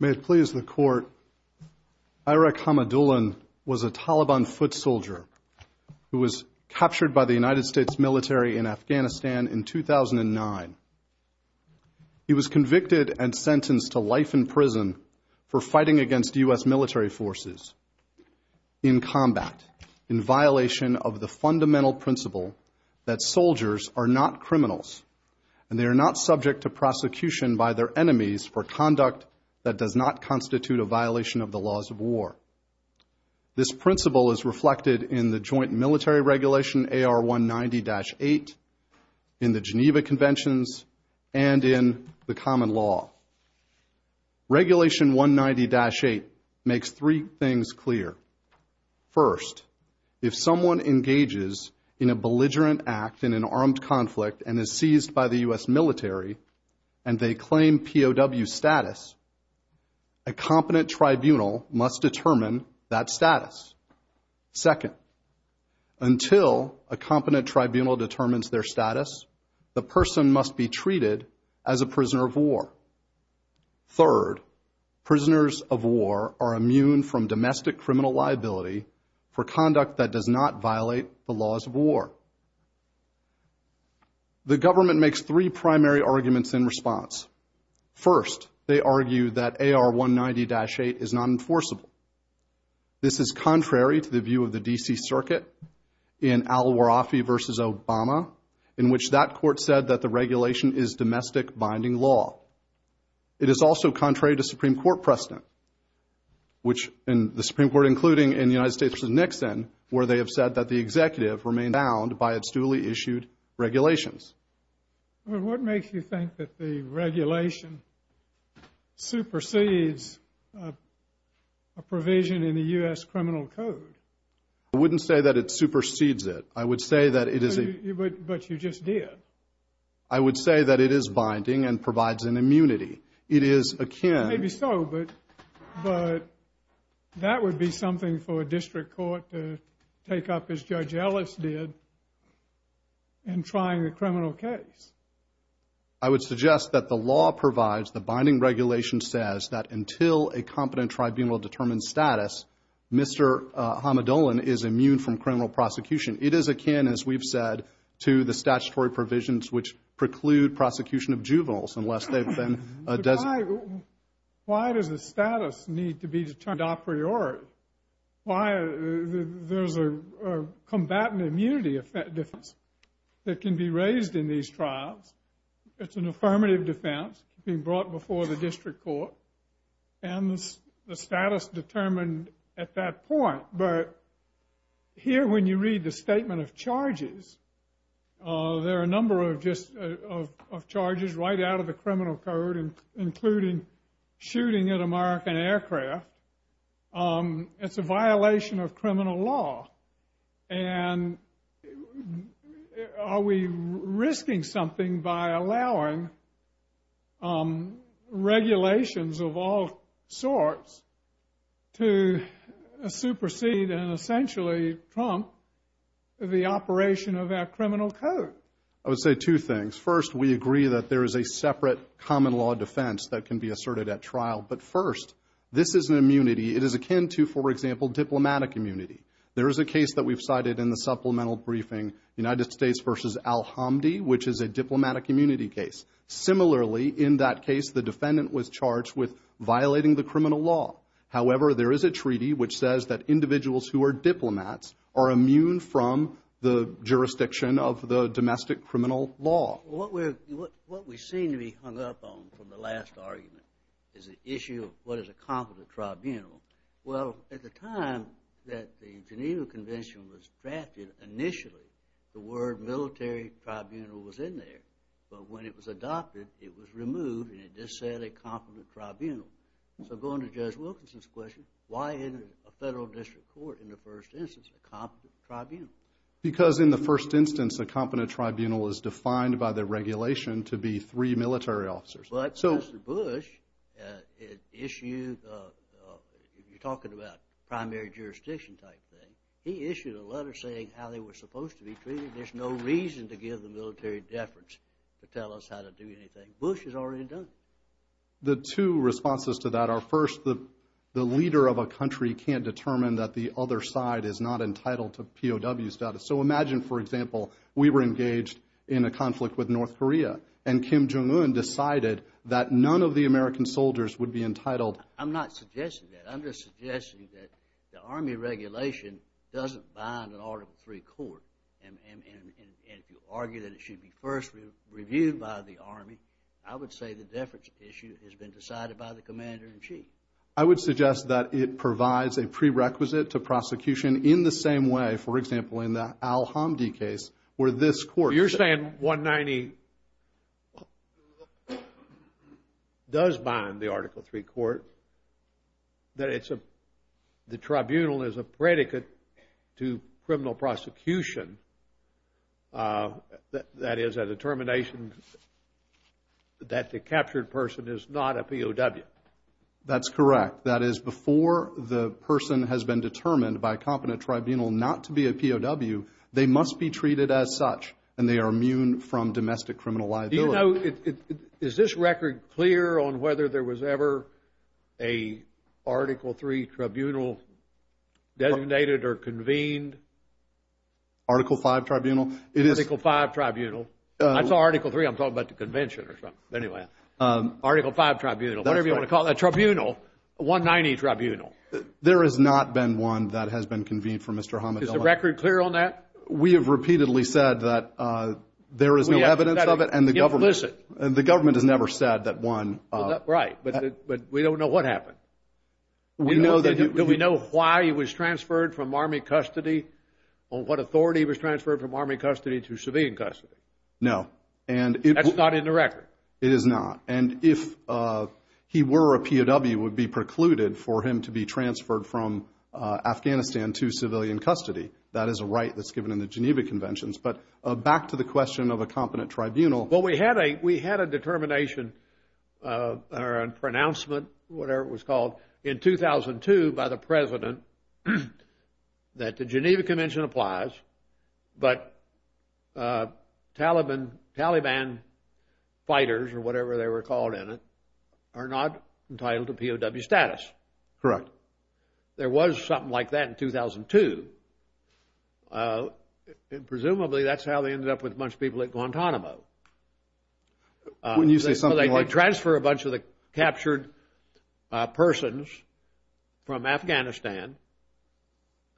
May it please the court, Irek Hamidullin was a Taliban foot soldier who was captured by the United States military in Afghanistan in 2009. He was convicted and sentenced to two years in jail. He was also convicted of murder. I therefore ask that the U.S. military forces in combat in violation of the fundamental principle that soldiers are not criminals and they are not subject to prosecution by their enemies for conduct that does not constitute a violation of the laws of war. This principle is reflected in the joint military regulation AR190-8 in the Geneva Conventions and in the Common Law. Regulation 190-8 makes three things clear. First, if someone engages in a belligerent act in an armed conflict and is seized by the U.S. military and they claim POW status, a competent tribunal must determine that status. Second, until a competent tribunal determines their status, the person must be treated as a prisoner of war. Third, prisoners of war are immune from domestic criminal liability for conduct that does not violate the laws of war. The government makes three primary arguments in response. First, they argue that AR190-8 is not enforceable. This is contrary to the view of the D.C. Circuit in Al-Warafi v. Obama, in which that court said that the regulation is domestic binding law. It is also contrary to Supreme Court precedent, which the Supreme Court, including in the United States v. Nixon, where they have said that the executive remains bound by its duly issued regulations. Well, what makes you think that the regulation supersedes a provision in the U.S. Criminal Code? I wouldn't say that it supersedes it. I would say that it is a... But you just did. I would say that it is binding and provides an immunity. It is akin... as Judge Ellis did in trying the criminal case. I would suggest that the law provides, the binding regulation says, that until a competent tribunal determines status, Mr. Hamadolin is immune from criminal prosecution. It is akin, as we've said, to the statutory provisions which preclude prosecution of juveniles unless they've been... Why does the status need to be determined a priori? There's a combatant immunity defense that can be raised in these trials. It's an affirmative defense being brought before the district court, and the status determined at that point. But here, when you read the shooting at American aircraft, it's a violation of criminal law. And are we risking something by allowing regulations of all sorts to supersede and essentially trump the operation of that criminal code? I would say two things. First, we agree that there is a separate common law defense that can be asserted at trial. But first, this is an immunity. It is akin to, for example, diplomatic immunity. There is a case that we've cited in the supplemental briefing, United States v. Al-Hamdi, which is a diplomatic immunity case. Similarly, in that case, the defendant was charged with violating the criminal law. However, there is a treaty which says that individuals who are diplomats are immune from the jurisdiction of the domestic criminal law. Well, what we seem to be hung up on from the last argument is the issue of what is a competent tribunal. Well, at the time that the Geneva Convention was drafted, initially, the word military tribunal was in there. But when it was adopted, it was removed, and it just said a competent tribunal. So going to Judge Wilkinson's question, why isn't a federal district court, in the first instance, a competent tribunal? Because in the first instance, a competent tribunal is defined by the regulation to be three military officers. But Mr. Bush issued, you're talking about primary jurisdiction type thing, he issued a letter saying how they were supposed to be treated. There's no reason to give the The two responses to that are, first, the leader of a country can't determine that the other side is not entitled to POW status. So imagine, for example, we were engaged in a conflict with North Korea, and Kim Jong-un decided that none of the American soldiers would be entitled. I'm not suggesting that. I'm just suggesting that the Army regulation doesn't bind an Article 3 court. And if you argue that it should be first reviewed by the Army, I would say the reference issue has been decided by the Commander-in-Chief. I would suggest that it provides a prerequisite to prosecution in the same way, for example, in the Al-Hamdi case, where this court You're saying 190 does bind the Article 3 court, that the tribunal is a predicate to a POW. That's correct. That is, before the person has been determined by a competent tribunal not to be a POW, they must be treated as such, and they are immune from domestic criminal liability. Do you know, is this record clear on whether there was ever a Article 3 tribunal designated or convened? Article 5 tribunal? Article 5 tribunal. I saw Article 3, I'm talking about the convention or something. Anyway. Article 5 tribunal, whatever you want to call it, a tribunal, a 190 tribunal. There has not been one that has been convened for Mr. Hamidullah. Is the record clear on that? We have repeatedly said that there is no evidence of it, and the government has never said that one... Right, but we don't know what happened. Do we know why he was transferred from Army custody, or what authority he was transferred from Army custody to civilian custody? No. And that's not in the record? It is not. And if he were a POW, it would be precluded for him to be transferred from Afghanistan to civilian custody. That is a right that's given in the Geneva Conventions. But back to the question of a competent tribunal... Well, we had a determination, or a pronouncement, whatever it was called, in 2002 by the President that the Geneva Convention applies, but Taliban fighters, or whatever they were called in it, are not entitled to POW status. Correct. There was something like that in 2002. Presumably, that's how they ended up with a bunch of people at Guantanamo. When you say something like... So they did transfer a bunch of the captured persons from Afghanistan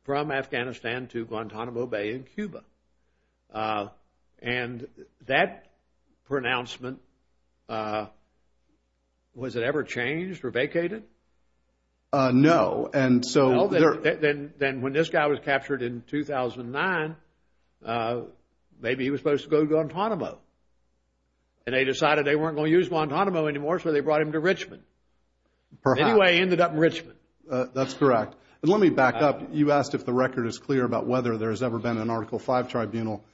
to Guantanamo Bay in Cuba. And that pronouncement, was it ever changed or vacated? No, and so... Then when this guy was captured in 2009, maybe he was supposed to go to Guantanamo. And they decided they weren't going to use Guantanamo anymore, so they brought him to Richmond. Perhaps. Anyway, he ended up in Richmond. That's correct. And let me back up. You asked if the record is clear about whether there's ever been an Article V Tribunal.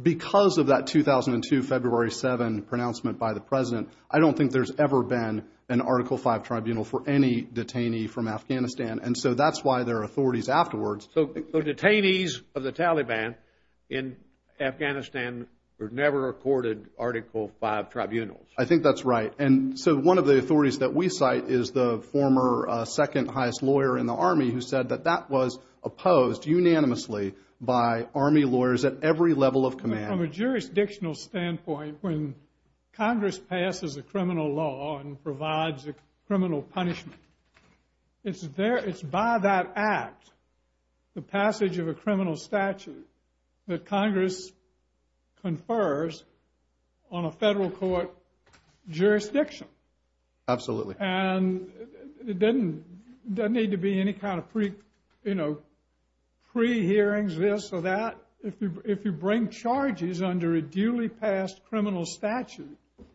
Because of that 2002, February 7, pronouncement by the President, I don't think there's ever been an Article V Tribunal for any detainee from Afghanistan. And so that's why there are authorities afterwards... The detainees of the Taliban in Afghanistan were never accorded Article V Tribunals. I think that's right. And so one of the authorities that we cite is the former second highest lawyer in the army, who said that that was opposed unanimously by army lawyers at every level of command. From a jurisdictional standpoint, when Congress passes a criminal law and provides a criminal punishment, it's by that act, the passage of a criminal statute, that Congress confers on a federal court jurisdiction. Absolutely. And it doesn't need to be any kind of pre-hearings, this or that. If you bring charges under a duly passed criminal statute, then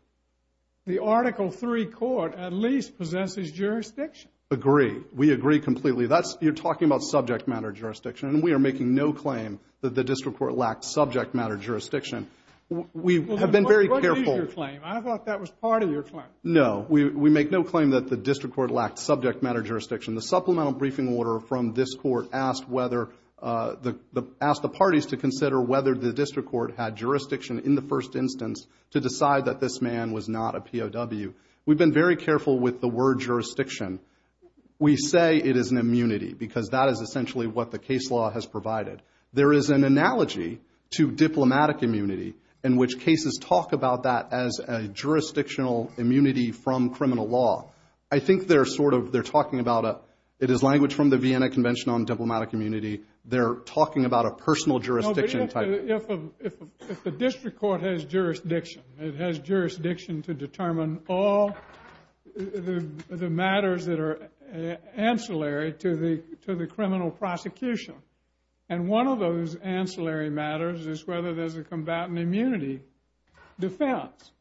the Article III court at least possesses jurisdiction. Agree. We agree completely. That's, you're talking about subject matter jurisdiction, and we are making no claim that the district court lacked subject matter jurisdiction. We have been very careful... What is your claim? I thought that was part of your claim. No, we make no claim that the district court lacked subject matter jurisdiction. The supplemental briefing order from this court asked whether, asked the parties to consider whether the district court had jurisdiction in the first instance to decide that this man was not a POW. We've been very careful with the word jurisdiction. We say it is an immunity, because that is essentially what the case law has provided. There is an analogy to diplomatic immunity, in which cases talk about that as a jurisdictional immunity from criminal law. I think they're sort of, they're talking about a, it is language from the Vienna Convention on Diplomatic Immunity. They're talking about a personal jurisdiction. If the district court has jurisdiction, it has jurisdiction to determine all the matters that are ancillary to the criminal prosecution. And one of those ancillary matters is whether there's a combatant immunity defense.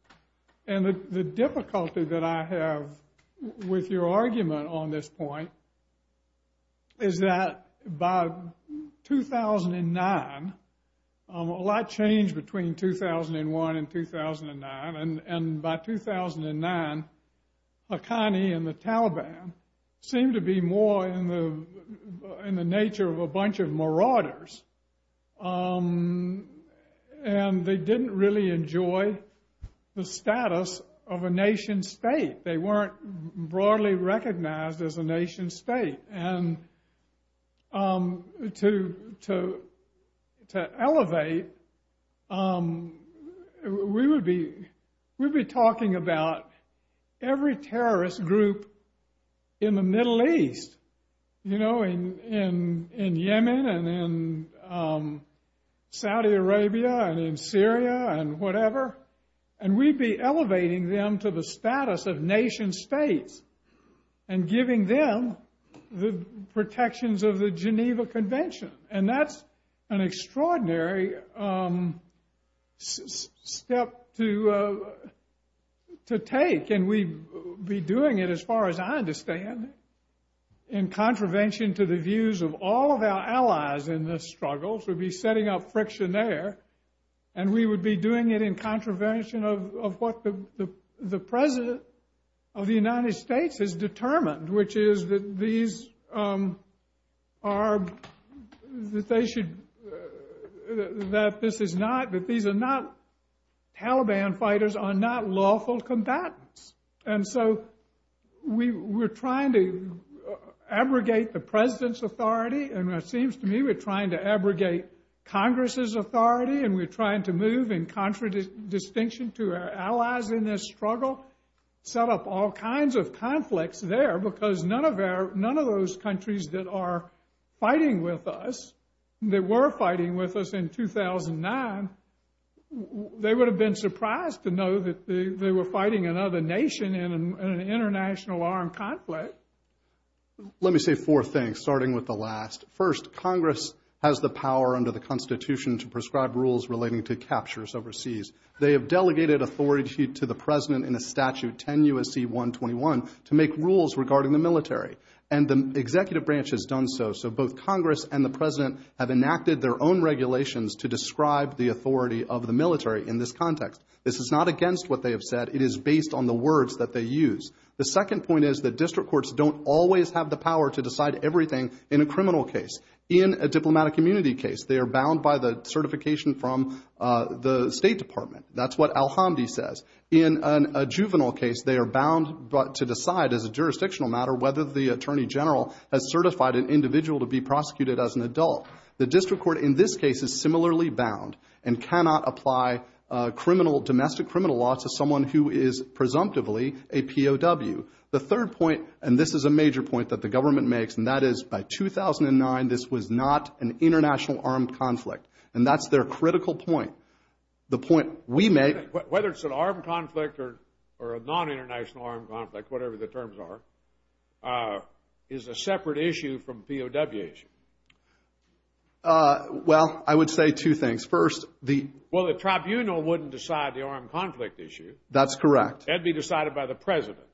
And the difficulty that I have with your argument on this point is that by 2009, a lot changed between 2001 and 2009. And by 2009, Haqqani and the Taliban seemed to be more in the nature of a bunch of marauders. And they didn't really enjoy the status of a nation state. They weren't broadly recognized as a nation state. And to elevate, we would be talking about every terrorist group in the Middle East, you know, in Yemen and in Saudi Arabia and in Syria and whatever. And we'd be elevating them to the status of nation states and giving them the protections of the Geneva Convention. And that's an extraordinary step to take. And we'd be doing it, as far as I understand, in contravention to the views of all of our allies in this struggle. So we'd be setting up friction there. And we would be doing it in contravention of what the president of the United States has determined, which is that these are, that they should, that this is not, that these are not, Taliban fighters are not lawful combatants. And so we're trying to abrogate the president's authority. And it seems to me we're trying to abrogate Congress's authority. And we're trying to move in contradistinction to our allies in this struggle, set up all kinds of conflicts there. Because none of our, none of those countries that are fighting with us, that were fighting with us in 2009, they would have been surprised to know that they were fighting another nation in an international armed conflict. Let me say four things, starting with the last. First, Congress has the power under the Constitution to prescribe rules relating to captures overseas. They have delegated authority to the president in a statute, 10 U.S.C. 121, to make rules regarding the military. And the executive branch has done so. So both Congress and the president have enacted their own regulations to describe the authority of the military in this context. This is not against what they have said. It is based on the words that they use. The second point is that district courts don't always have the power to decide everything in a criminal case. In a diplomatic immunity case, they are bound by the certification from the State Department. That's what Al-Hamdi says. In a juvenile case, they are bound to decide as a jurisdictional matter whether the attorney general has certified an individual to be prosecuted as an adult. The district court in this case is similarly bound and cannot apply criminal, domestic criminal laws to someone who is presumptively a POW. The third point, and this is a major point that the government makes, and that is by 2009, this was not an international armed conflict. And that's their critical point. The point we make... Whether it's an armed conflict or a non-international armed conflict, whatever the terms are, is a separate issue from POW issue. Well, I would say two things. Well, the tribunal wouldn't decide the armed conflict issue. That's correct. That'd be decided by the president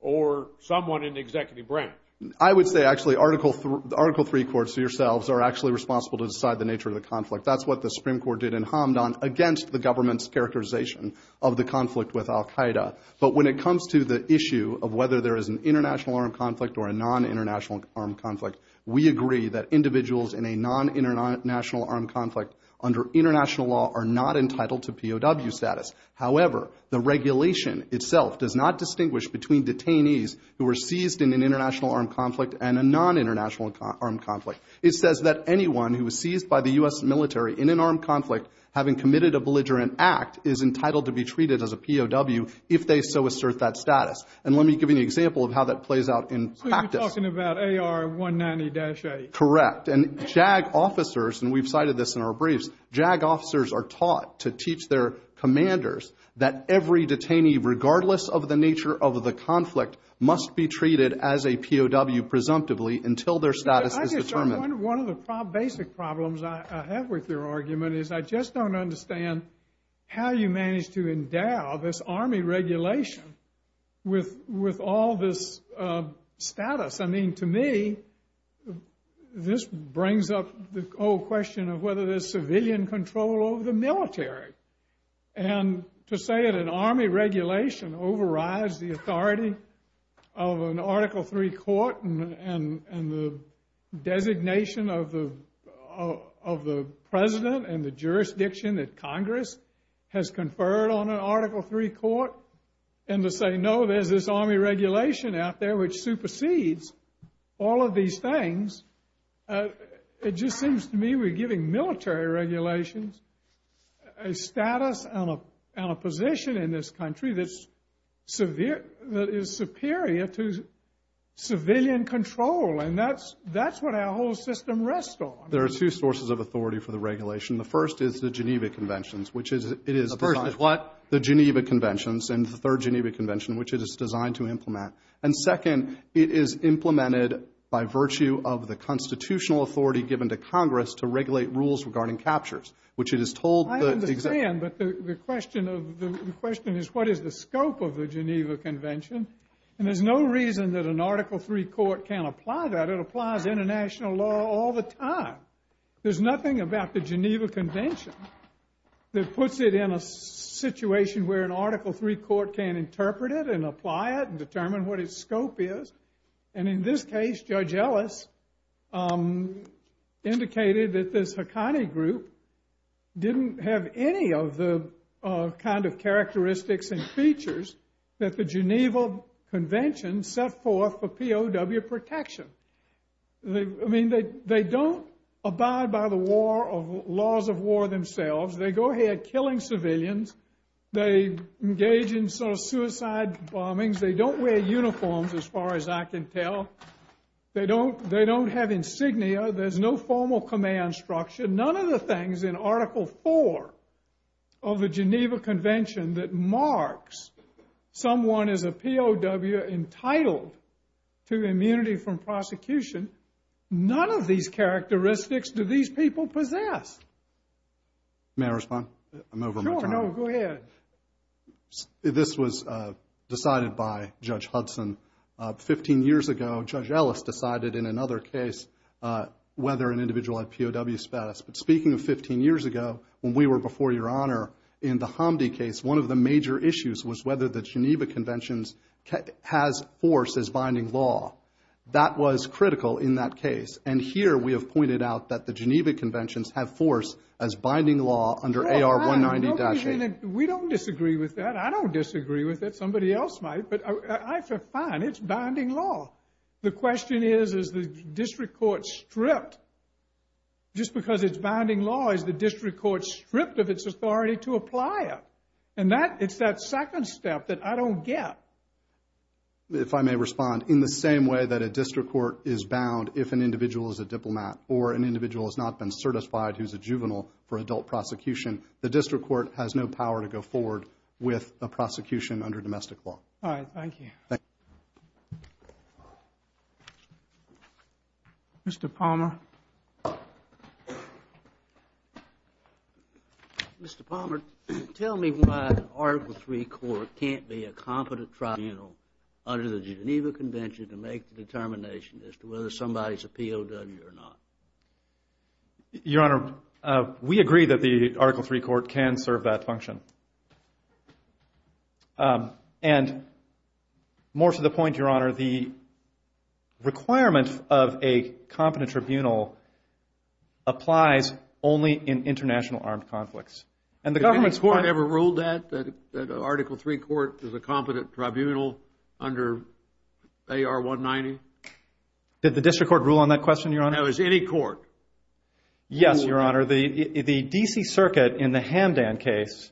or someone in the executive branch. I would say, actually, Article III courts, yourselves, are actually responsible to decide the nature of the conflict. That's what the Supreme Court did in Hamdan against the government's characterization of the conflict with al-Qaeda. But when it comes to the issue of whether there is an international armed conflict or a non-international armed conflict, we agree that individuals in a non-international armed conflict under international law are not entitled to POW status. However, the regulation itself does not distinguish between detainees who were seized in an international armed conflict and a non-international armed conflict. It says that anyone who was seized by the U.S. military in an armed conflict, having committed a belligerent act, is entitled to be treated as a POW if they so assert that status. And let me give you an example of how that plays out in practice. So you're talking about AR-190-A. Correct. And JAG officers, and we've cited this in our briefs, JAG officers are taught to teach their commanders that every detainee, regardless of the nature of the conflict, must be treated as a POW presumptively until their status is determined. One of the basic problems I have with your argument is I just don't understand how you manage to endow this army regulation with all this status. I mean, to me, this brings up the whole question of whether there's civilian control over the military. And to say that an army regulation overrides the authority of an Article III court and the designation of the president and the jurisdiction that Congress has conferred on an Article III court, and to say, no, there's this army regulation out there which supersedes all of these things, it just seems to me we're giving military regulations a status and a position in this country that is superior to civilian control. And that's what our whole system rests on. There are two sources of authority for the regulation. The first is the Geneva Conventions, which is, it is... The first is what? The Geneva Conventions and the third Geneva Convention, which it is designed to implement. And second, it is implemented by virtue of the constitutional authority given to Congress to regulate rules regarding captures, which it is told that... I understand, but the question is, what is the scope of the Geneva Convention? And there's no reason that an Article III court can't apply that. It applies international law all the time. There's nothing about the Geneva Convention that puts it in a situation where an Article III court can interpret it and apply it and determine what its scope is. And in this case, Judge Ellis indicated that this Haqqani group didn't have any of the kind of characteristics and features that the Geneva Convention set forth for POW protection. I mean, they don't abide by the laws of war themselves. They go ahead killing civilians. They engage in sort of suicide bombings. They don't wear uniforms, as far as I can tell. They don't have insignia. There's no formal command structure. None of the things in Article IV of the Geneva Convention that marks someone as a POW entitled to immunity from prosecution, none of these characteristics do these people possess. May I respond? I'm over my time. Sure, no, go ahead. This was decided by Judge Hudson 15 years ago. Judge Ellis decided in another case whether an individual had POW status. But speaking of 15 years ago, when we were before Your Honor in the Hamdi case, one of the major issues was whether the Geneva Convention has force as binding law. That was critical in that case. And here we have pointed out that the Geneva Conventions have force as binding law under AR-190-8. We don't disagree with that. I don't disagree with it. Somebody else might. But I feel fine. It's binding law. The question is, is the district court stripped? Just because it's binding law, is the district court stripped of its authority to apply it? And that, it's that second step that I don't get. If I may respond, in the same way that a district court is bound if an individual is a diplomat or an individual has not been certified who's a juvenile for adult prosecution, the district court has no power to go forward with a prosecution under domestic law. All right, thank you. Mr. Palmer. Mr. Palmer, tell me why an Article III court can't be a competent tribunal under the Geneva Convention to make the determination as to whether somebody's a POW or not. Your Honor, we agree that the Article III court can serve that function. And more to the point, Your Honor, the requirement of a competent tribunal applies only in international armed conflicts. And the government's court... Has any court ever ruled that, that an Article III court is a competent tribunal under AR-190? Did the district court rule on that question, Your Honor? No, has any court? Yes, Your Honor. The D.C. Circuit in the Hamdan case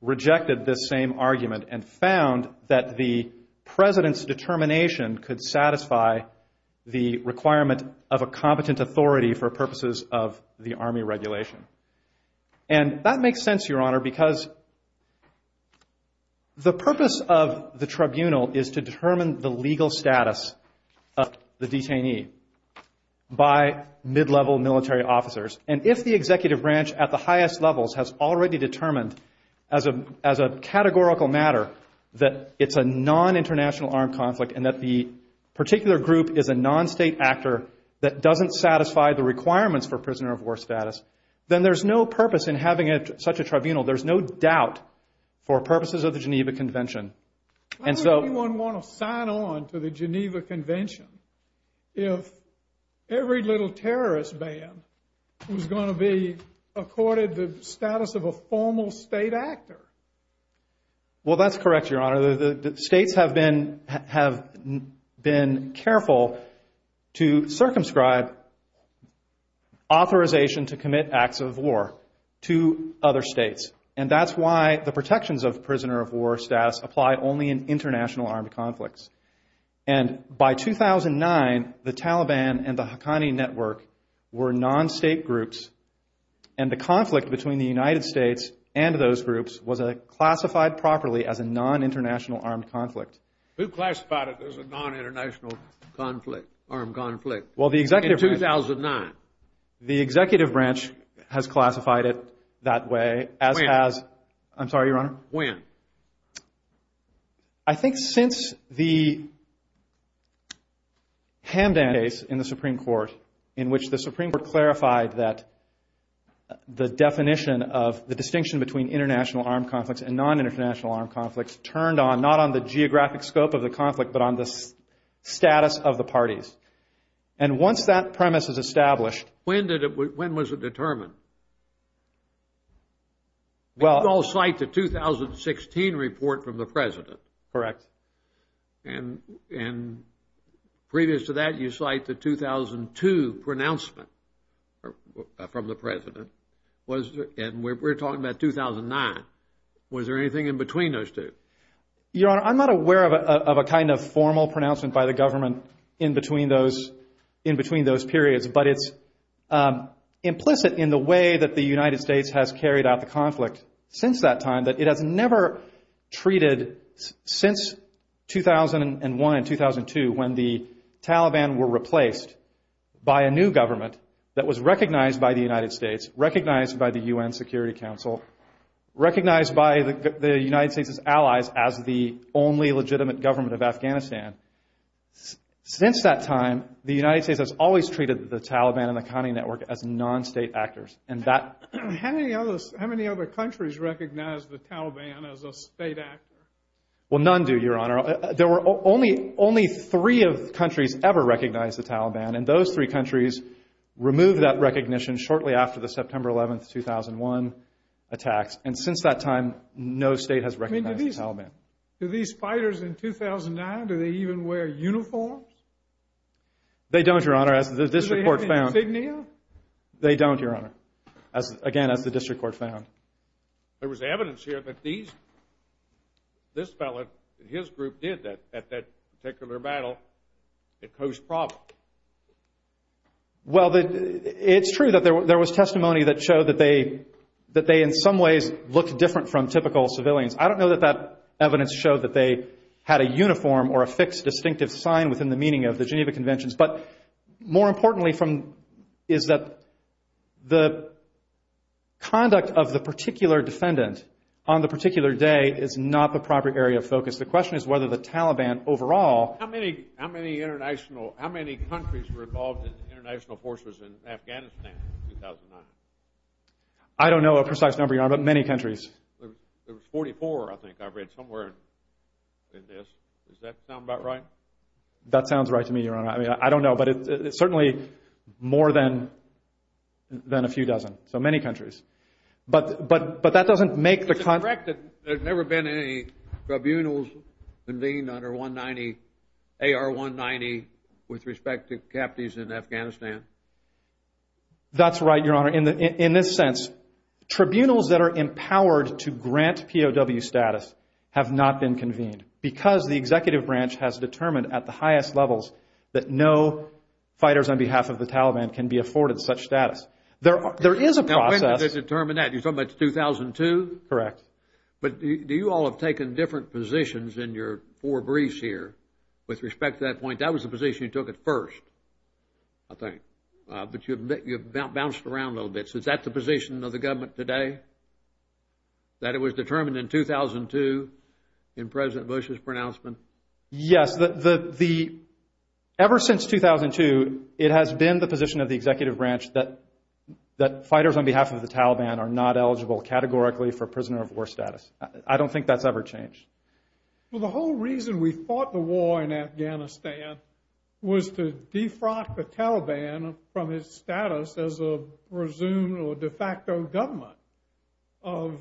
rejected this same argument and found that the President's determination could satisfy the requirement of a competent authority for purposes of the Army regulation. And that makes sense, Your Honor, because the purpose of the tribunal is to determine the legal status of the detainee by mid-level military officers. And if the executive branch at the highest levels has already determined as a categorical matter that it's a non-international armed conflict and that the particular group is a non-state actor that doesn't satisfy the requirements for prisoner of war status, then there's no purpose in having such a tribunal. There's no doubt for purposes of the Geneva Convention. Why would anyone want to sign on to the Geneva Convention if every little terrorist band was going to be accorded the status of a formal state actor? Well, that's correct, Your Honor. States have been careful to circumscribe authorization to commit acts of war to other states. And that's why the protections of prisoner of war status apply only in international armed conflicts. And by 2009, the Taliban and the Haqqani Network were non-state groups. And the conflict between the United States and those groups was classified properly as a non-international armed conflict. Who classified it as a non-international armed conflict in 2009? The executive branch has classified it that way. When? I'm sorry, Your Honor. When? I think since the Hamdan case in the Supreme Court, in which the Supreme Court clarified that the definition of the distinction between international armed conflicts and non-international armed conflicts turned on, not on the geographic scope of the conflict, but on the status of the parties. And once that premise is established... When did it... When was it determined? Well... You all cite the 2016 report from the president. Correct. And previous to that, you cite the 2002 pronouncement from the president. And we're talking about 2009. Was there anything in between those two? Your Honor, I'm not aware of a kind of formal pronouncement by the government in between those periods. But it's implicit in the way that the United States has carried out the conflict since that time that it has never treated since 2001 and 2002, when the Taliban were replaced by a new government that was recognized by the United States, recognized by the UN Security Council, recognized by the United States' allies as the only legitimate government of Afghanistan. Since that time, the United States has always treated the Taliban and the county network as non-state actors. And that... How many other countries recognize the Taliban as a state actor? Well, none do, Your Honor. There were only three of the countries ever recognize the Taliban. And those three countries removed that recognition shortly after the September 11, 2001 attacks. And since that time, no state has recognized the Taliban. Do these fighters in 2009, do they even wear uniforms? They don't, Your Honor. As the district court found... Do they have insignia? They don't, Your Honor. Again, as the district court found. There was evidence here that these... This fellow and his group did that at that particular battle at Khost Province. Well, it's true that there was testimony that showed that they... That they, in some ways, looked different from typical civilians. I don't know that that evidence showed that they had a uniform or a fixed distinctive sign within the meaning of the Geneva Conventions. But more importantly from... Is that the conduct of the particular defendant on the particular day is not the proper area of focus. The question is whether the Taliban overall... How many international... How many countries were involved in international forces in Afghanistan in 2009? I don't know a precise number, Your Honor, but many countries. There was 44, I think I read somewhere in this. Does that sound about right? That sounds right to me, Your Honor. I don't know, but it's certainly more than a few dozen. So many countries. But that doesn't make the... Is it correct that there's never been any tribunals convened under AR-190 with respect to captives in Afghanistan? That's right, Your Honor. In this sense, tribunals that are empowered to grant POW status have not been convened because the executive branch has determined at the highest levels that no fighters on behalf of the Taliban can be afforded such status. There is a process... When did they determine that? You're talking about 2002? Correct. But do you all have taken different positions in your four briefs here with respect to that point? That was the position you took at first, I think. But you've bounced around a little bit. So is that the position of the government today? That it was determined in 2002 in President Bush's pronouncement? Yes. Ever since 2002, it has been the position of the executive branch that fighters on behalf of the Taliban are not eligible categorically for prisoner of war status. I don't think that's ever changed. Well, the whole reason we fought the war in Afghanistan was to defrock the Taliban from its status as a presumed or de facto government of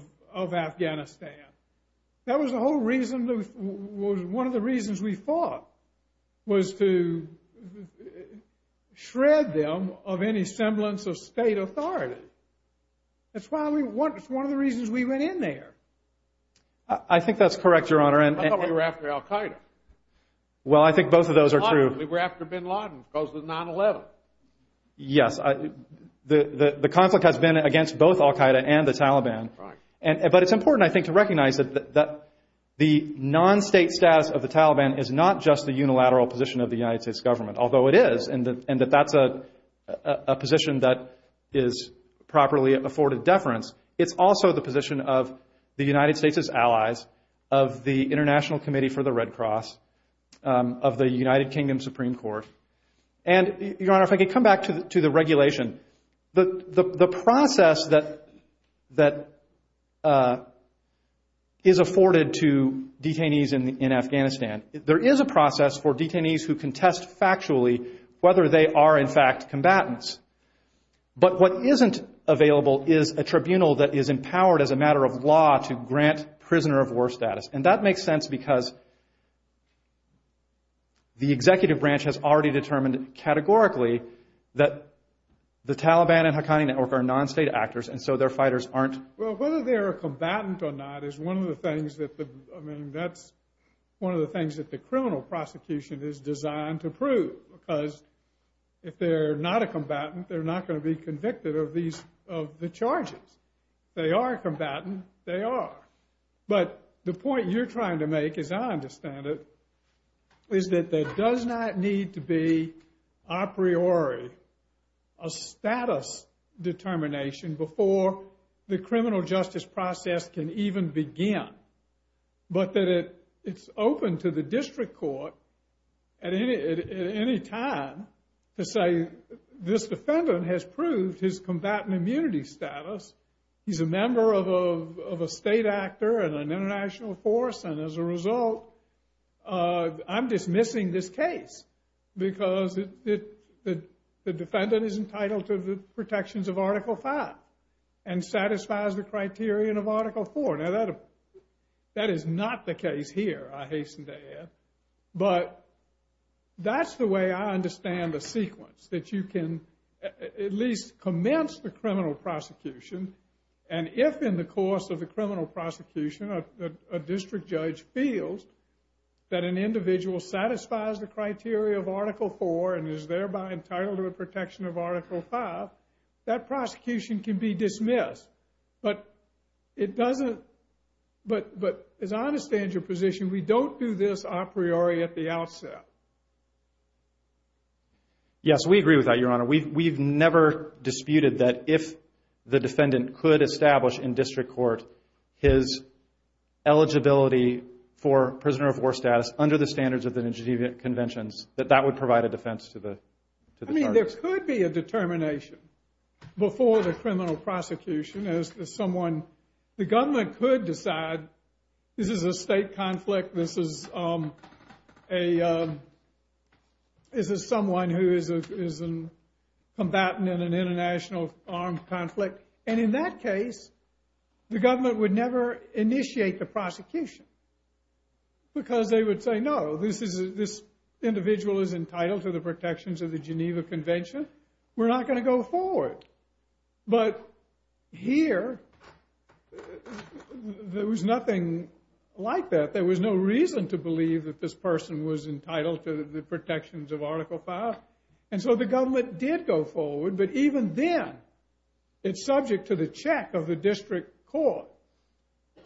Afghanistan. That was the whole reason... One of the reasons we fought was to shred them of any semblance of state authority. That's one of the reasons we went in there. I think that's correct, Your Honor. I thought we were after Al-Qaeda. Well, I think both of those are true. We were after bin Laden because of 9-11. Yes, the conflict has been against both Al-Qaeda and the Taliban. But it's important, I think, to recognize that the non-state status of the Taliban is not just the unilateral position of the United States government, although it is, and that that's a position that is properly afforded deference. It's also the position of the United States' allies, of the International Committee for the Red Cross, of the United Kingdom Supreme Court. And, Your Honor, if I could come back to the regulation. The process that is afforded to detainees in Afghanistan, there is a process for detainees who can test factually whether they are, in fact, combatants. But what isn't available is a tribunal that is empowered as a matter of law to grant prisoner of war status. And that makes sense because the executive branch has already determined categorically that the Taliban and Haqqani Network are non-state actors, and so their fighters aren't. Well, whether they're a combatant or not is one of the things that the, I mean, that's one of the things that the criminal prosecution is designed to prove. Because if they're not a combatant, they're not going to be convicted of these, of the charges. They are a combatant, they are. But the point you're trying to make, as I understand it, is that there does not need to be, a priori, a status determination before the criminal justice process can even begin. But that it's open to the district court at any time to say, this defendant has proved his combatant immunity status. He's a member of a state actor and an international force, and as a result, I'm dismissing this case. Because the defendant is entitled to the protections of Article 5, and satisfies the criterion of Article 4. Now, that is not the case here, I hasten to add. But that's the way I understand the sequence, that you can at least commence the criminal prosecution. And if in the course of the criminal prosecution, a district judge feels that an individual satisfies the criteria of Article 4, and is thereby entitled to a protection of Article 5, that prosecution can be dismissed. But it doesn't, but as I understand your position, we don't do this a priori at the outset. Yes, we agree with that, Your Honor. We've never disputed that if the defendant could establish in district court his eligibility for prisoner of war status under the standards of the New Jersey Conventions, that that would provide a defense to the charges. I mean, there could be a determination before the criminal prosecution, as someone, the government could decide, this is a state conflict, this is someone who is a combatant in an international armed conflict. And in that case, the government would never initiate the prosecution. Because they would say, no, this individual is entitled to the protections of the Geneva Convention. We're not going to go forward. But here, there was nothing like that. There was no reason to believe that this person was entitled to the protections of Article 5. And so the government did go forward. But even then, it's subject to the check of the district court.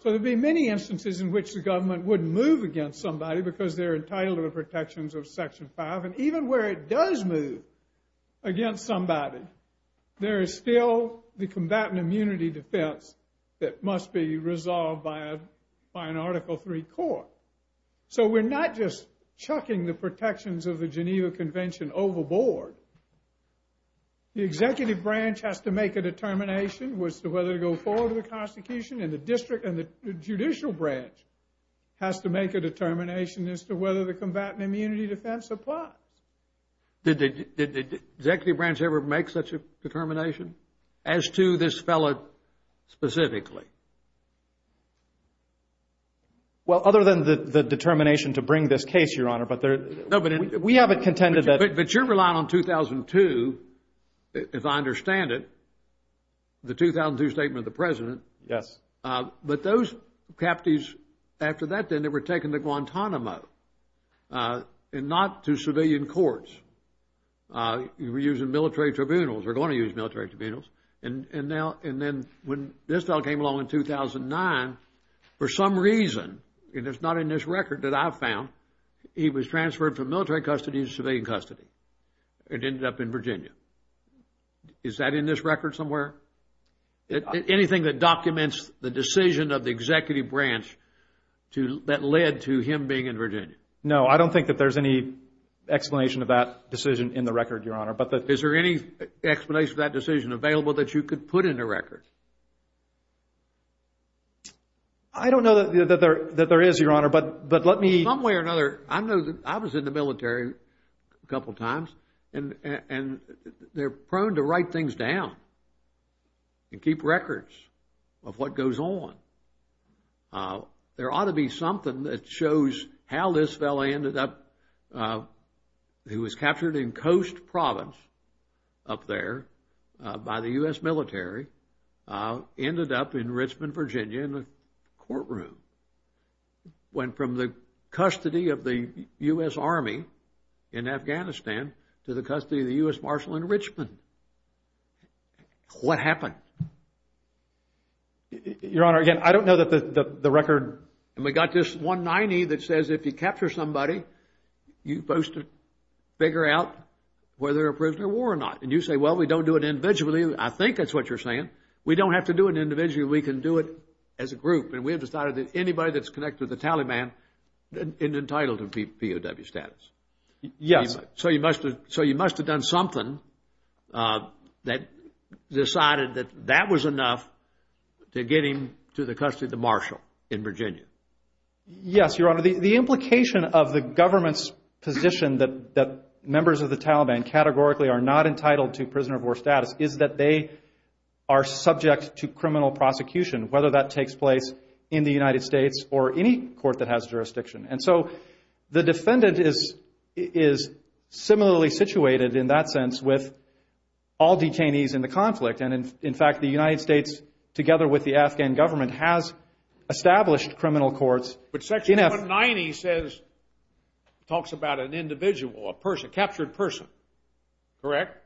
So there'd be many instances in which the government would move against somebody because they're entitled to the protections of Section 5. And even where it does move against somebody, there is still the combatant immunity defense that must be resolved by an Article 3 court. So we're not just chucking the protections of the Geneva Convention overboard. The executive branch has to make a determination as to whether to go forward with the prosecution. And the district and the judicial branch has to make a determination as to whether the combatant immunity defense applies. Did the executive branch ever make such a determination? As to this fellow specifically? Well, other than the determination to bring this case, Your Honor, but there... No, but we haven't contended that... But you're relying on 2002, if I understand it, the 2002 statement of the President. Yes. But those captives, after that then, they were taken to Guantanamo and not to civilian courts. You were using military tribunals. We're going to use military tribunals. And then when this fellow came along in 2009, for some reason, and it's not in this record that I found, he was transferred from military custody to civilian custody. It ended up in Virginia. Is that in this record somewhere? Anything that documents the decision of the executive branch that led to him being in Virginia? No, I don't think that there's any explanation of that decision in the record, Your Honor, but... Is there any explanation of that decision available that you could put in the record? I don't know that there is, Your Honor, but let me... I know that I was in the military a couple of times, and they're prone to write things down and keep records of what goes on. There ought to be something that shows how this fellow ended up, who was captured in Coast Province up there by the U.S. military, ended up in Richmond, Virginia in a courtroom. Went from the custody of the U.S. Army in Afghanistan to the custody of the U.S. Marshal in Richmond. What happened? Your Honor, again, I don't know that the record... And we got this 190 that says if you capture somebody, you're supposed to figure out whether they're a prisoner of war or not. And you say, well, we don't do it individually. I think that's what you're saying. We don't have to do it individually. We can do it as a group. And we have decided that anybody that's connected with the Taliban is entitled to POW status. Yes. So you must have done something that decided that that was enough to get him to the custody of the Marshal in Virginia. Yes, Your Honor. The implication of the government's position that members of the Taliban categorically are not entitled to prisoner of war status is that they are subject to criminal prosecution, whether that takes place in the United States or any court that has jurisdiction. And so the defendant is similarly situated in that sense with all detainees in the conflict. And in fact, the United States, together with the Afghan government, has established criminal courts... But section 190 says, talks about an individual, a person, captured person, correct?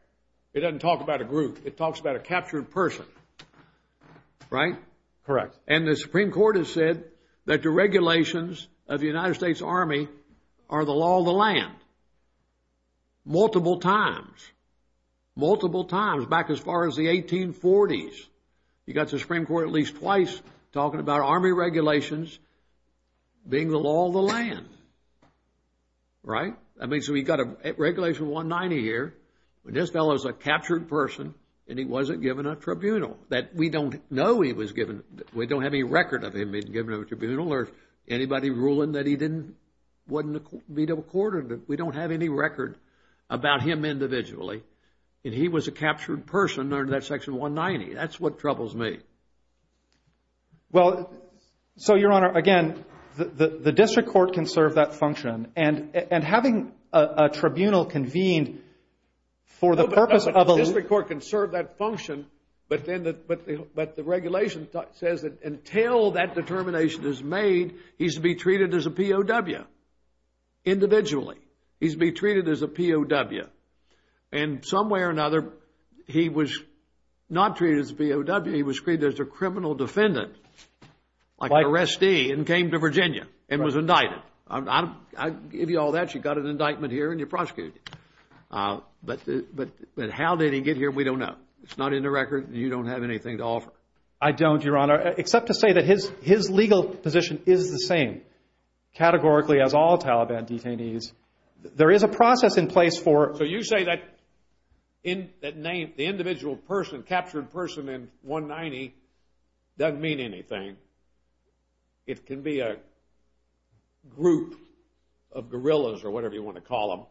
It doesn't talk about a group. It talks about a captured person, right? Correct. And the Supreme Court has said that the regulations of the United States Army are the law of the land. Multiple times. Multiple times. Back as far as the 1840s, you got the Supreme Court at least twice talking about Army regulations being the law of the land. Right? I mean, so we've got a regulation 190 here, but this fellow is a captured person, and he wasn't given a tribunal. That we don't know he was given... We don't have any record of him being given a tribunal or anybody ruling that he didn't... Wasn't a B-double quartered. We don't have any record about him individually. And he was a captured person under that section 190. That's what troubles me. Well, so, Your Honor, again, the district court can serve that function. And having a tribunal convened for the purpose of... The district court can serve that function, but the regulation says that until that determination is made, he's to be treated as a POW, individually. He's to be treated as a POW. And some way or another, he was not treated as a POW. He was treated as a criminal defendant, like an arrestee, and came to Virginia and was indicted. I give you all that. You got an indictment here and you're prosecuted. But how did he get here? We don't know. It's not in the record. You don't have anything to offer. I don't, Your Honor, except to say that his legal position is the same, categorically, as all Taliban detainees. There is a process in place for... So you say that name, the individual person, captured person in 190, doesn't mean anything. It can be a group of guerrillas or whatever you want to call them.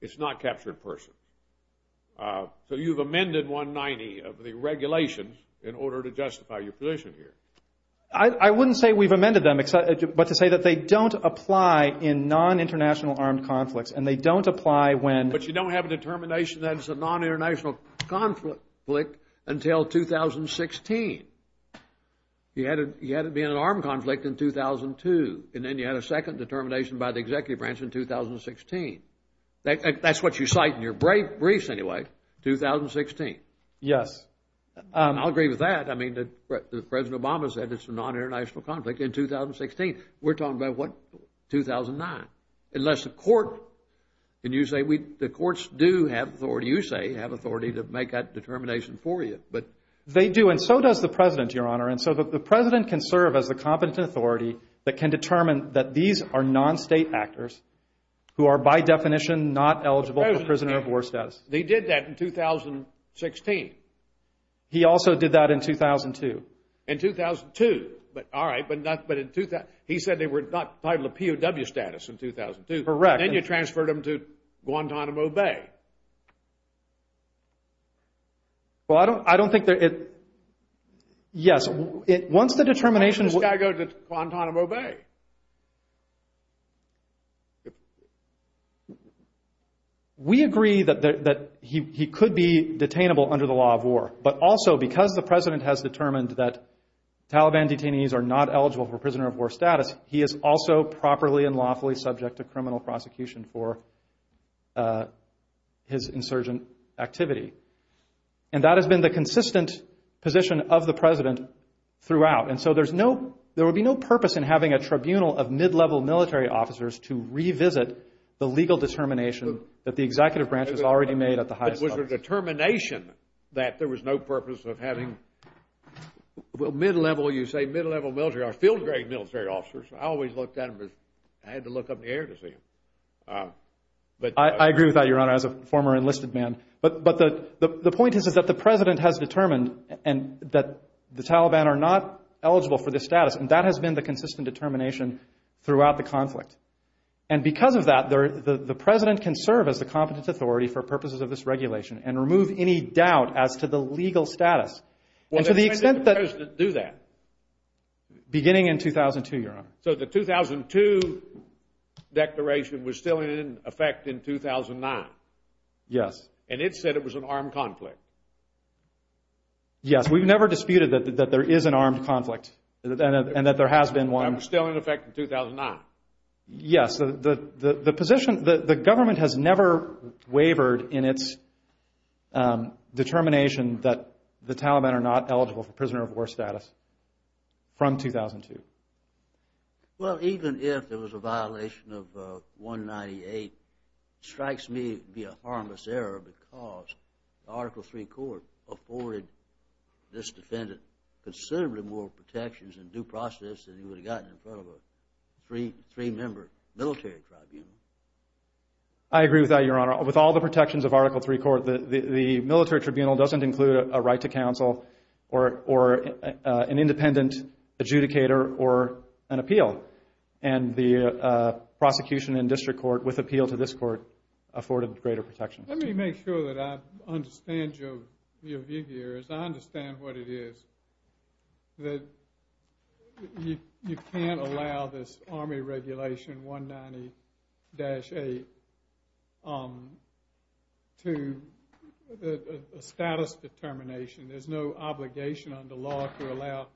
It's not captured person. So you've amended 190 of the regulations in order to justify your position here. I wouldn't say we've amended them, but to say that they don't apply in non-international armed conflicts, and they don't apply when... But you don't have a determination that it's a non-international conflict until 2016. He had to be in an armed conflict in 2002, and then you had a second determination by the executive branch in 2016. That's what you cite in your briefs, anyway. 2016. Yes. I'll agree with that. I mean, President Obama said it's a non-international conflict in 2016. We're talking about what? 2009. Unless the court... Can you say the courts do have authority, you say, have authority to make that determination for you, but... They do, and so does the President, Your Honor. And so the President can serve as the competent authority that can determine that these are non-state actors who are, by definition, not eligible for prisoner of war status. He did that in 2016. He also did that in 2002. In 2002. But, all right, but in 2000... He said they were not entitled to POW status in 2002. Correct. Then you transferred them to Guantanamo Bay. Well, I don't think that it... Yes, once the determination... Why did this guy go to Guantanamo Bay? We agree that he could be detainable under the law of war. But also, because the President has determined that Taliban detainees are not eligible for prisoner of war status, he is also properly and lawfully subject to criminal prosecution for his insurgent activity. And that has been the consistent position of the President throughout. And so there's no... There would be no purpose in having a tribunal of mid-level military officers to revisit the legal determination that the executive branch has already made at the highest level. It was a determination that there was no purpose of having... Well, mid-level, you say, mid-level military... Field-grade military officers. I always looked at them as... I had to look up in the air to see them. I agree with that, Your Honor, as a former enlisted man. But the point is that the President has determined and that the Taliban are not eligible for this status. And that has been the consistent determination throughout the conflict. And because of that, the President can serve as the competent authority for purposes of this regulation and remove any doubt as to the legal status. And to the extent that... When did the President do that? Beginning in 2002, Your Honor. So the 2002 declaration was still in effect in 2009? Yes. And it said it was an armed conflict? Yes, we've never disputed that there is an armed conflict and that there has been one. And it was still in effect in 2009? Yes, the position... The government has never wavered in its determination that the Taliban are not eligible for prisoner of war status from 2002. Well, even if there was a violation of 198, it strikes me to be a harmless error because the Article III Court afforded this defendant considerably more protections and due process than he would have gotten in front of a three-member military tribunal. I agree with that, Your Honor. With all the protections of Article III Court, the military tribunal doesn't include a right to counsel or an independent adjudicator or an appeal. And the prosecution in district court with appeal to this court afforded greater protections. Let me make sure that I understand your view here as I understand what it is. That you can't allow this Army Regulation 190-8 to... A status determination. There's no obligation under law to allow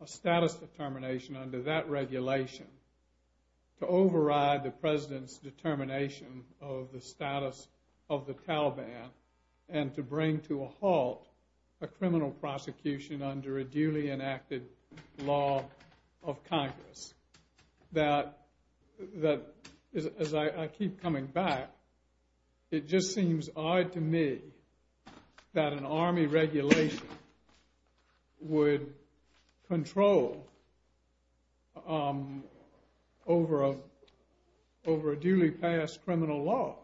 a status determination under that regulation to override the President's determination of the status of the Taliban and to bring to a halt a criminal prosecution under a duly enacted law of Congress. That, as I keep coming back, it just seems odd to me that an Army Regulation would control over a duly passed criminal law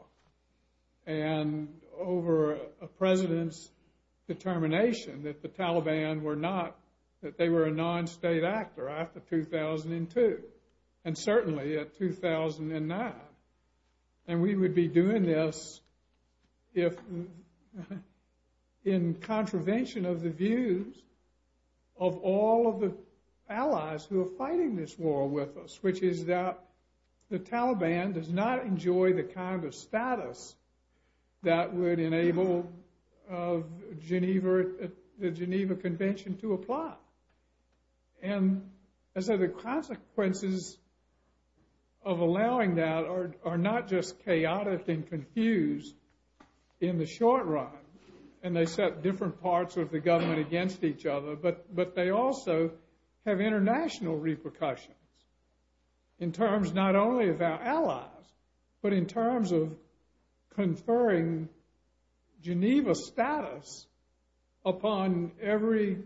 and over a President's determination that the Taliban were not... that they were a non-state actor after 2002 and certainly at 2009. And we would be doing this if... in contravention of the views of all of the allies who are fighting this war with us, which is that the Taliban does not enjoy the kind of status that would enable the Geneva Convention to apply. And so the consequences of allowing that are not just chaotic and confused in the short run and they set different parts of the government against each other, but they also have international repercussions. In terms not only of our allies, but in terms of conferring Geneva status upon every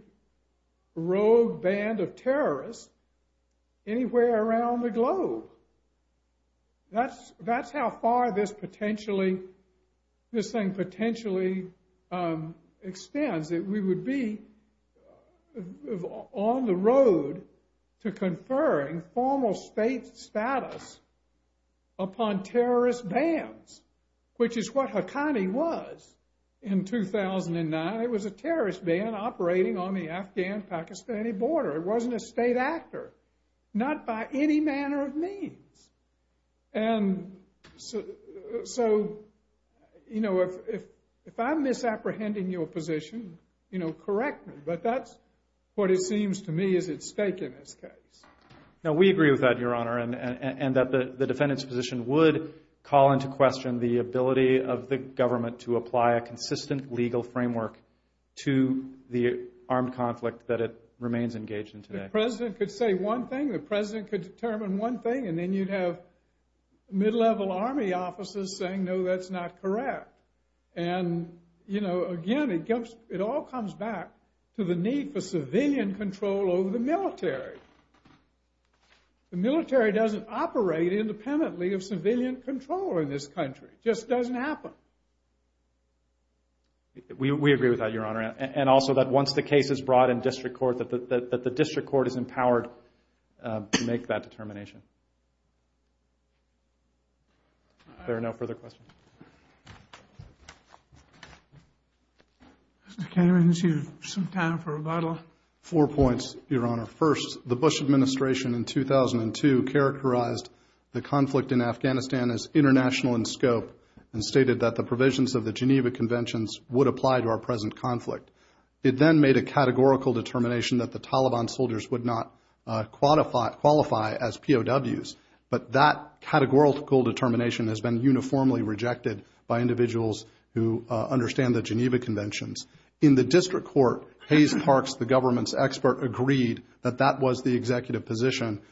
rogue band of terrorists anywhere around the globe. That's how far this potentially... this thing potentially extends, that we would be on the road to conferring formal state status upon terrorist bands, which is what Haqqani was in 2009. It was a terrorist band operating on the Afghan-Pakistani border. It wasn't a state actor, not by any manner of means. And so, you know, if I'm misapprehending your position, you know, correct me, but that's what it seems to me is at stake in this case. Now, we agree with that, Your Honor, and that the defendant's position would call into question the ability of the government to apply a consistent legal framework to the armed conflict that it remains engaged in today. The president could say one thing, the president could determine one thing, and then you'd have mid-level army officers saying, no, that's not correct. And, you know, again, it all comes back to the need for civilian control over the military. The military doesn't operate independently of civilian control in this country. Just doesn't happen. We agree with that, Your Honor, and also that once the case is brought in district court, that the district court is empowered to make that determination. There are no further questions. Mr. Cameron, is there some time for rebuttal? Four points, Your Honor. First, the Bush administration in 2002 characterized the conflict in Afghanistan as international in scope and stated that the provisions of the Geneva Conventions would apply to our present conflict. It then made a categorical determination that the Taliban soldiers would not qualify as POWs, but that categorical determination has been uniformly rejected by individuals who understand the Geneva Conventions. In the district court, Hayes Parks, the government's expert, agreed that that was the executive position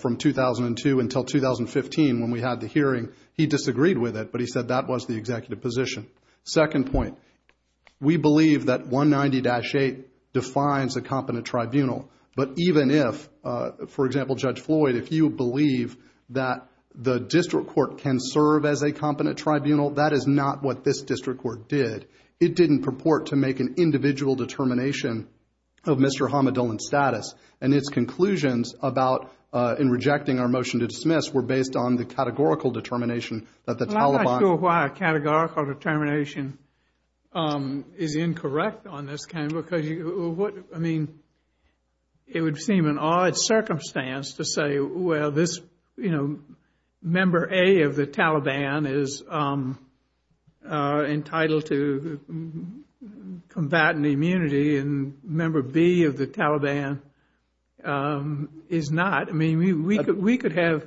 from 2002 until 2015 when we had the hearing. He disagreed with it, but he said that was the executive position. Second point, we believe that 190-8 defines a competent tribunal. But even if, for example, Judge Floyd, if you believe that the district court can serve as a competent tribunal, that is not what this district court did. It didn't purport to make an individual determination of Mr. Hamadullin's status. And its conclusions about, in rejecting our motion to dismiss, were based on the categorical determination that the Taliban- Well, I'm not sure why a categorical determination is incorrect on this kind of- I mean, it would seem an odd circumstance to say, well, this member A of the Taliban is entitled to combatant immunity, and member B of the Taliban is not. I mean, we could have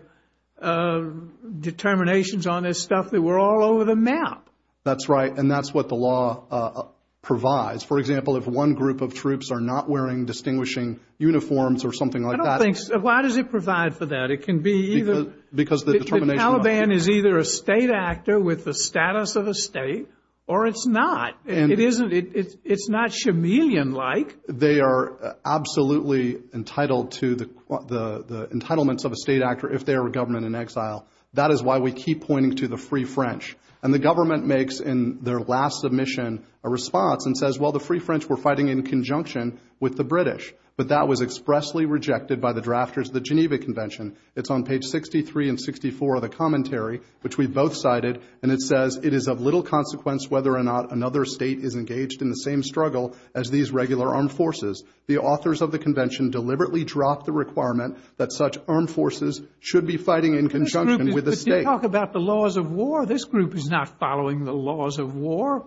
determinations on this stuff that were all over the map. That's right. And that's what the law provides. For example, if one group of troops are not wearing distinguishing uniforms or something like that- Why does it provide for that? It can be either- Because the determination- The Taliban is either a state actor with the status of a state, or it's not. It's not chameleon-like. They are absolutely entitled to the entitlements of a state actor if they are a government in exile. That is why we keep pointing to the Free French. And the government makes, in their last submission, a response and says, well, the Free French were fighting in conjunction with the British, but that was expressly rejected by the drafters of the Geneva Convention. It's on page 63 and 64 of the commentary, which we both cited, and it says, it is of little consequence whether or not another state is engaged in the same struggle as these regular armed forces. The authors of the convention deliberately dropped the requirement that such armed forces should be fighting in conjunction with the state. But you talk about the laws of war. This group is not following the laws of war.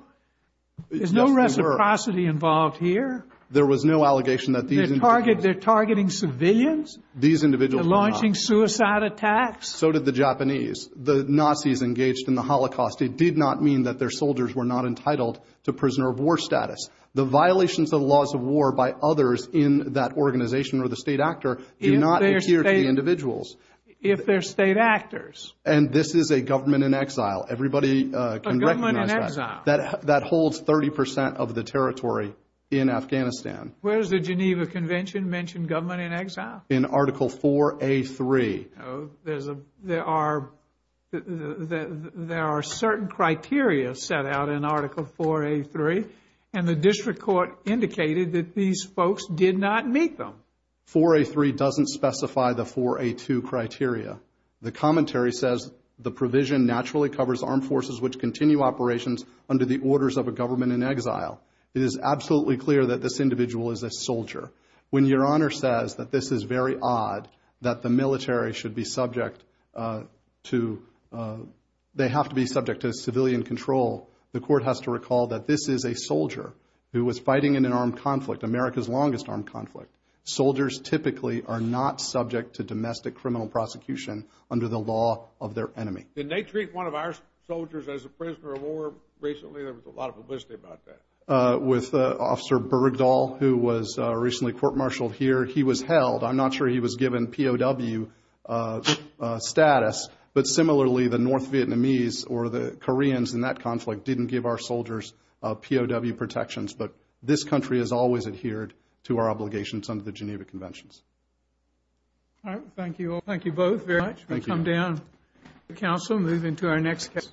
There's no reciprocity involved here. There was no allegation that these- They're targeting civilians? These individuals were not. They're launching suicide attacks? So did the Japanese. The Nazis engaged in the Holocaust. It did not mean that their soldiers were not entitled to prisoner of war status. The violations of the laws of war by others in that organization or the state actor do not adhere to the individuals. If they're state actors. And this is a government in exile. Everybody can recognize that. A government in exile. That holds 30% of the territory in Afghanistan. Where does the Geneva Convention mention government in exile? In Article 4A3. There are certain criteria set out in Article 4A3. And the district court indicated that these folks did not meet them. 4A3 doesn't specify the 4A2 criteria. The commentary says the provision naturally covers armed forces which continue operations under the orders of a government in exile. It is absolutely clear that this individual is a soldier. When your honor says that this is very odd. That the military should be subject to. They have to be subject to civilian control. The court has to recall that this is a soldier who was fighting in an armed conflict. America's longest armed conflict. Soldiers typically are not subject to domestic criminal prosecution under the law of their enemy. Did they treat one of our soldiers as a prisoner of war recently? There was a lot of publicity about that. With Officer Bergdahl who was recently court-martialed here. He was held. I'm not sure he was given POW status. But similarly, the North Vietnamese or the Koreans in that conflict didn't give our soldiers POW protections. But this country has always adhered to our obligations under the Geneva Conventions. All right, thank you all. Thank you both very much. We'll come down to the council. Moving to our next case.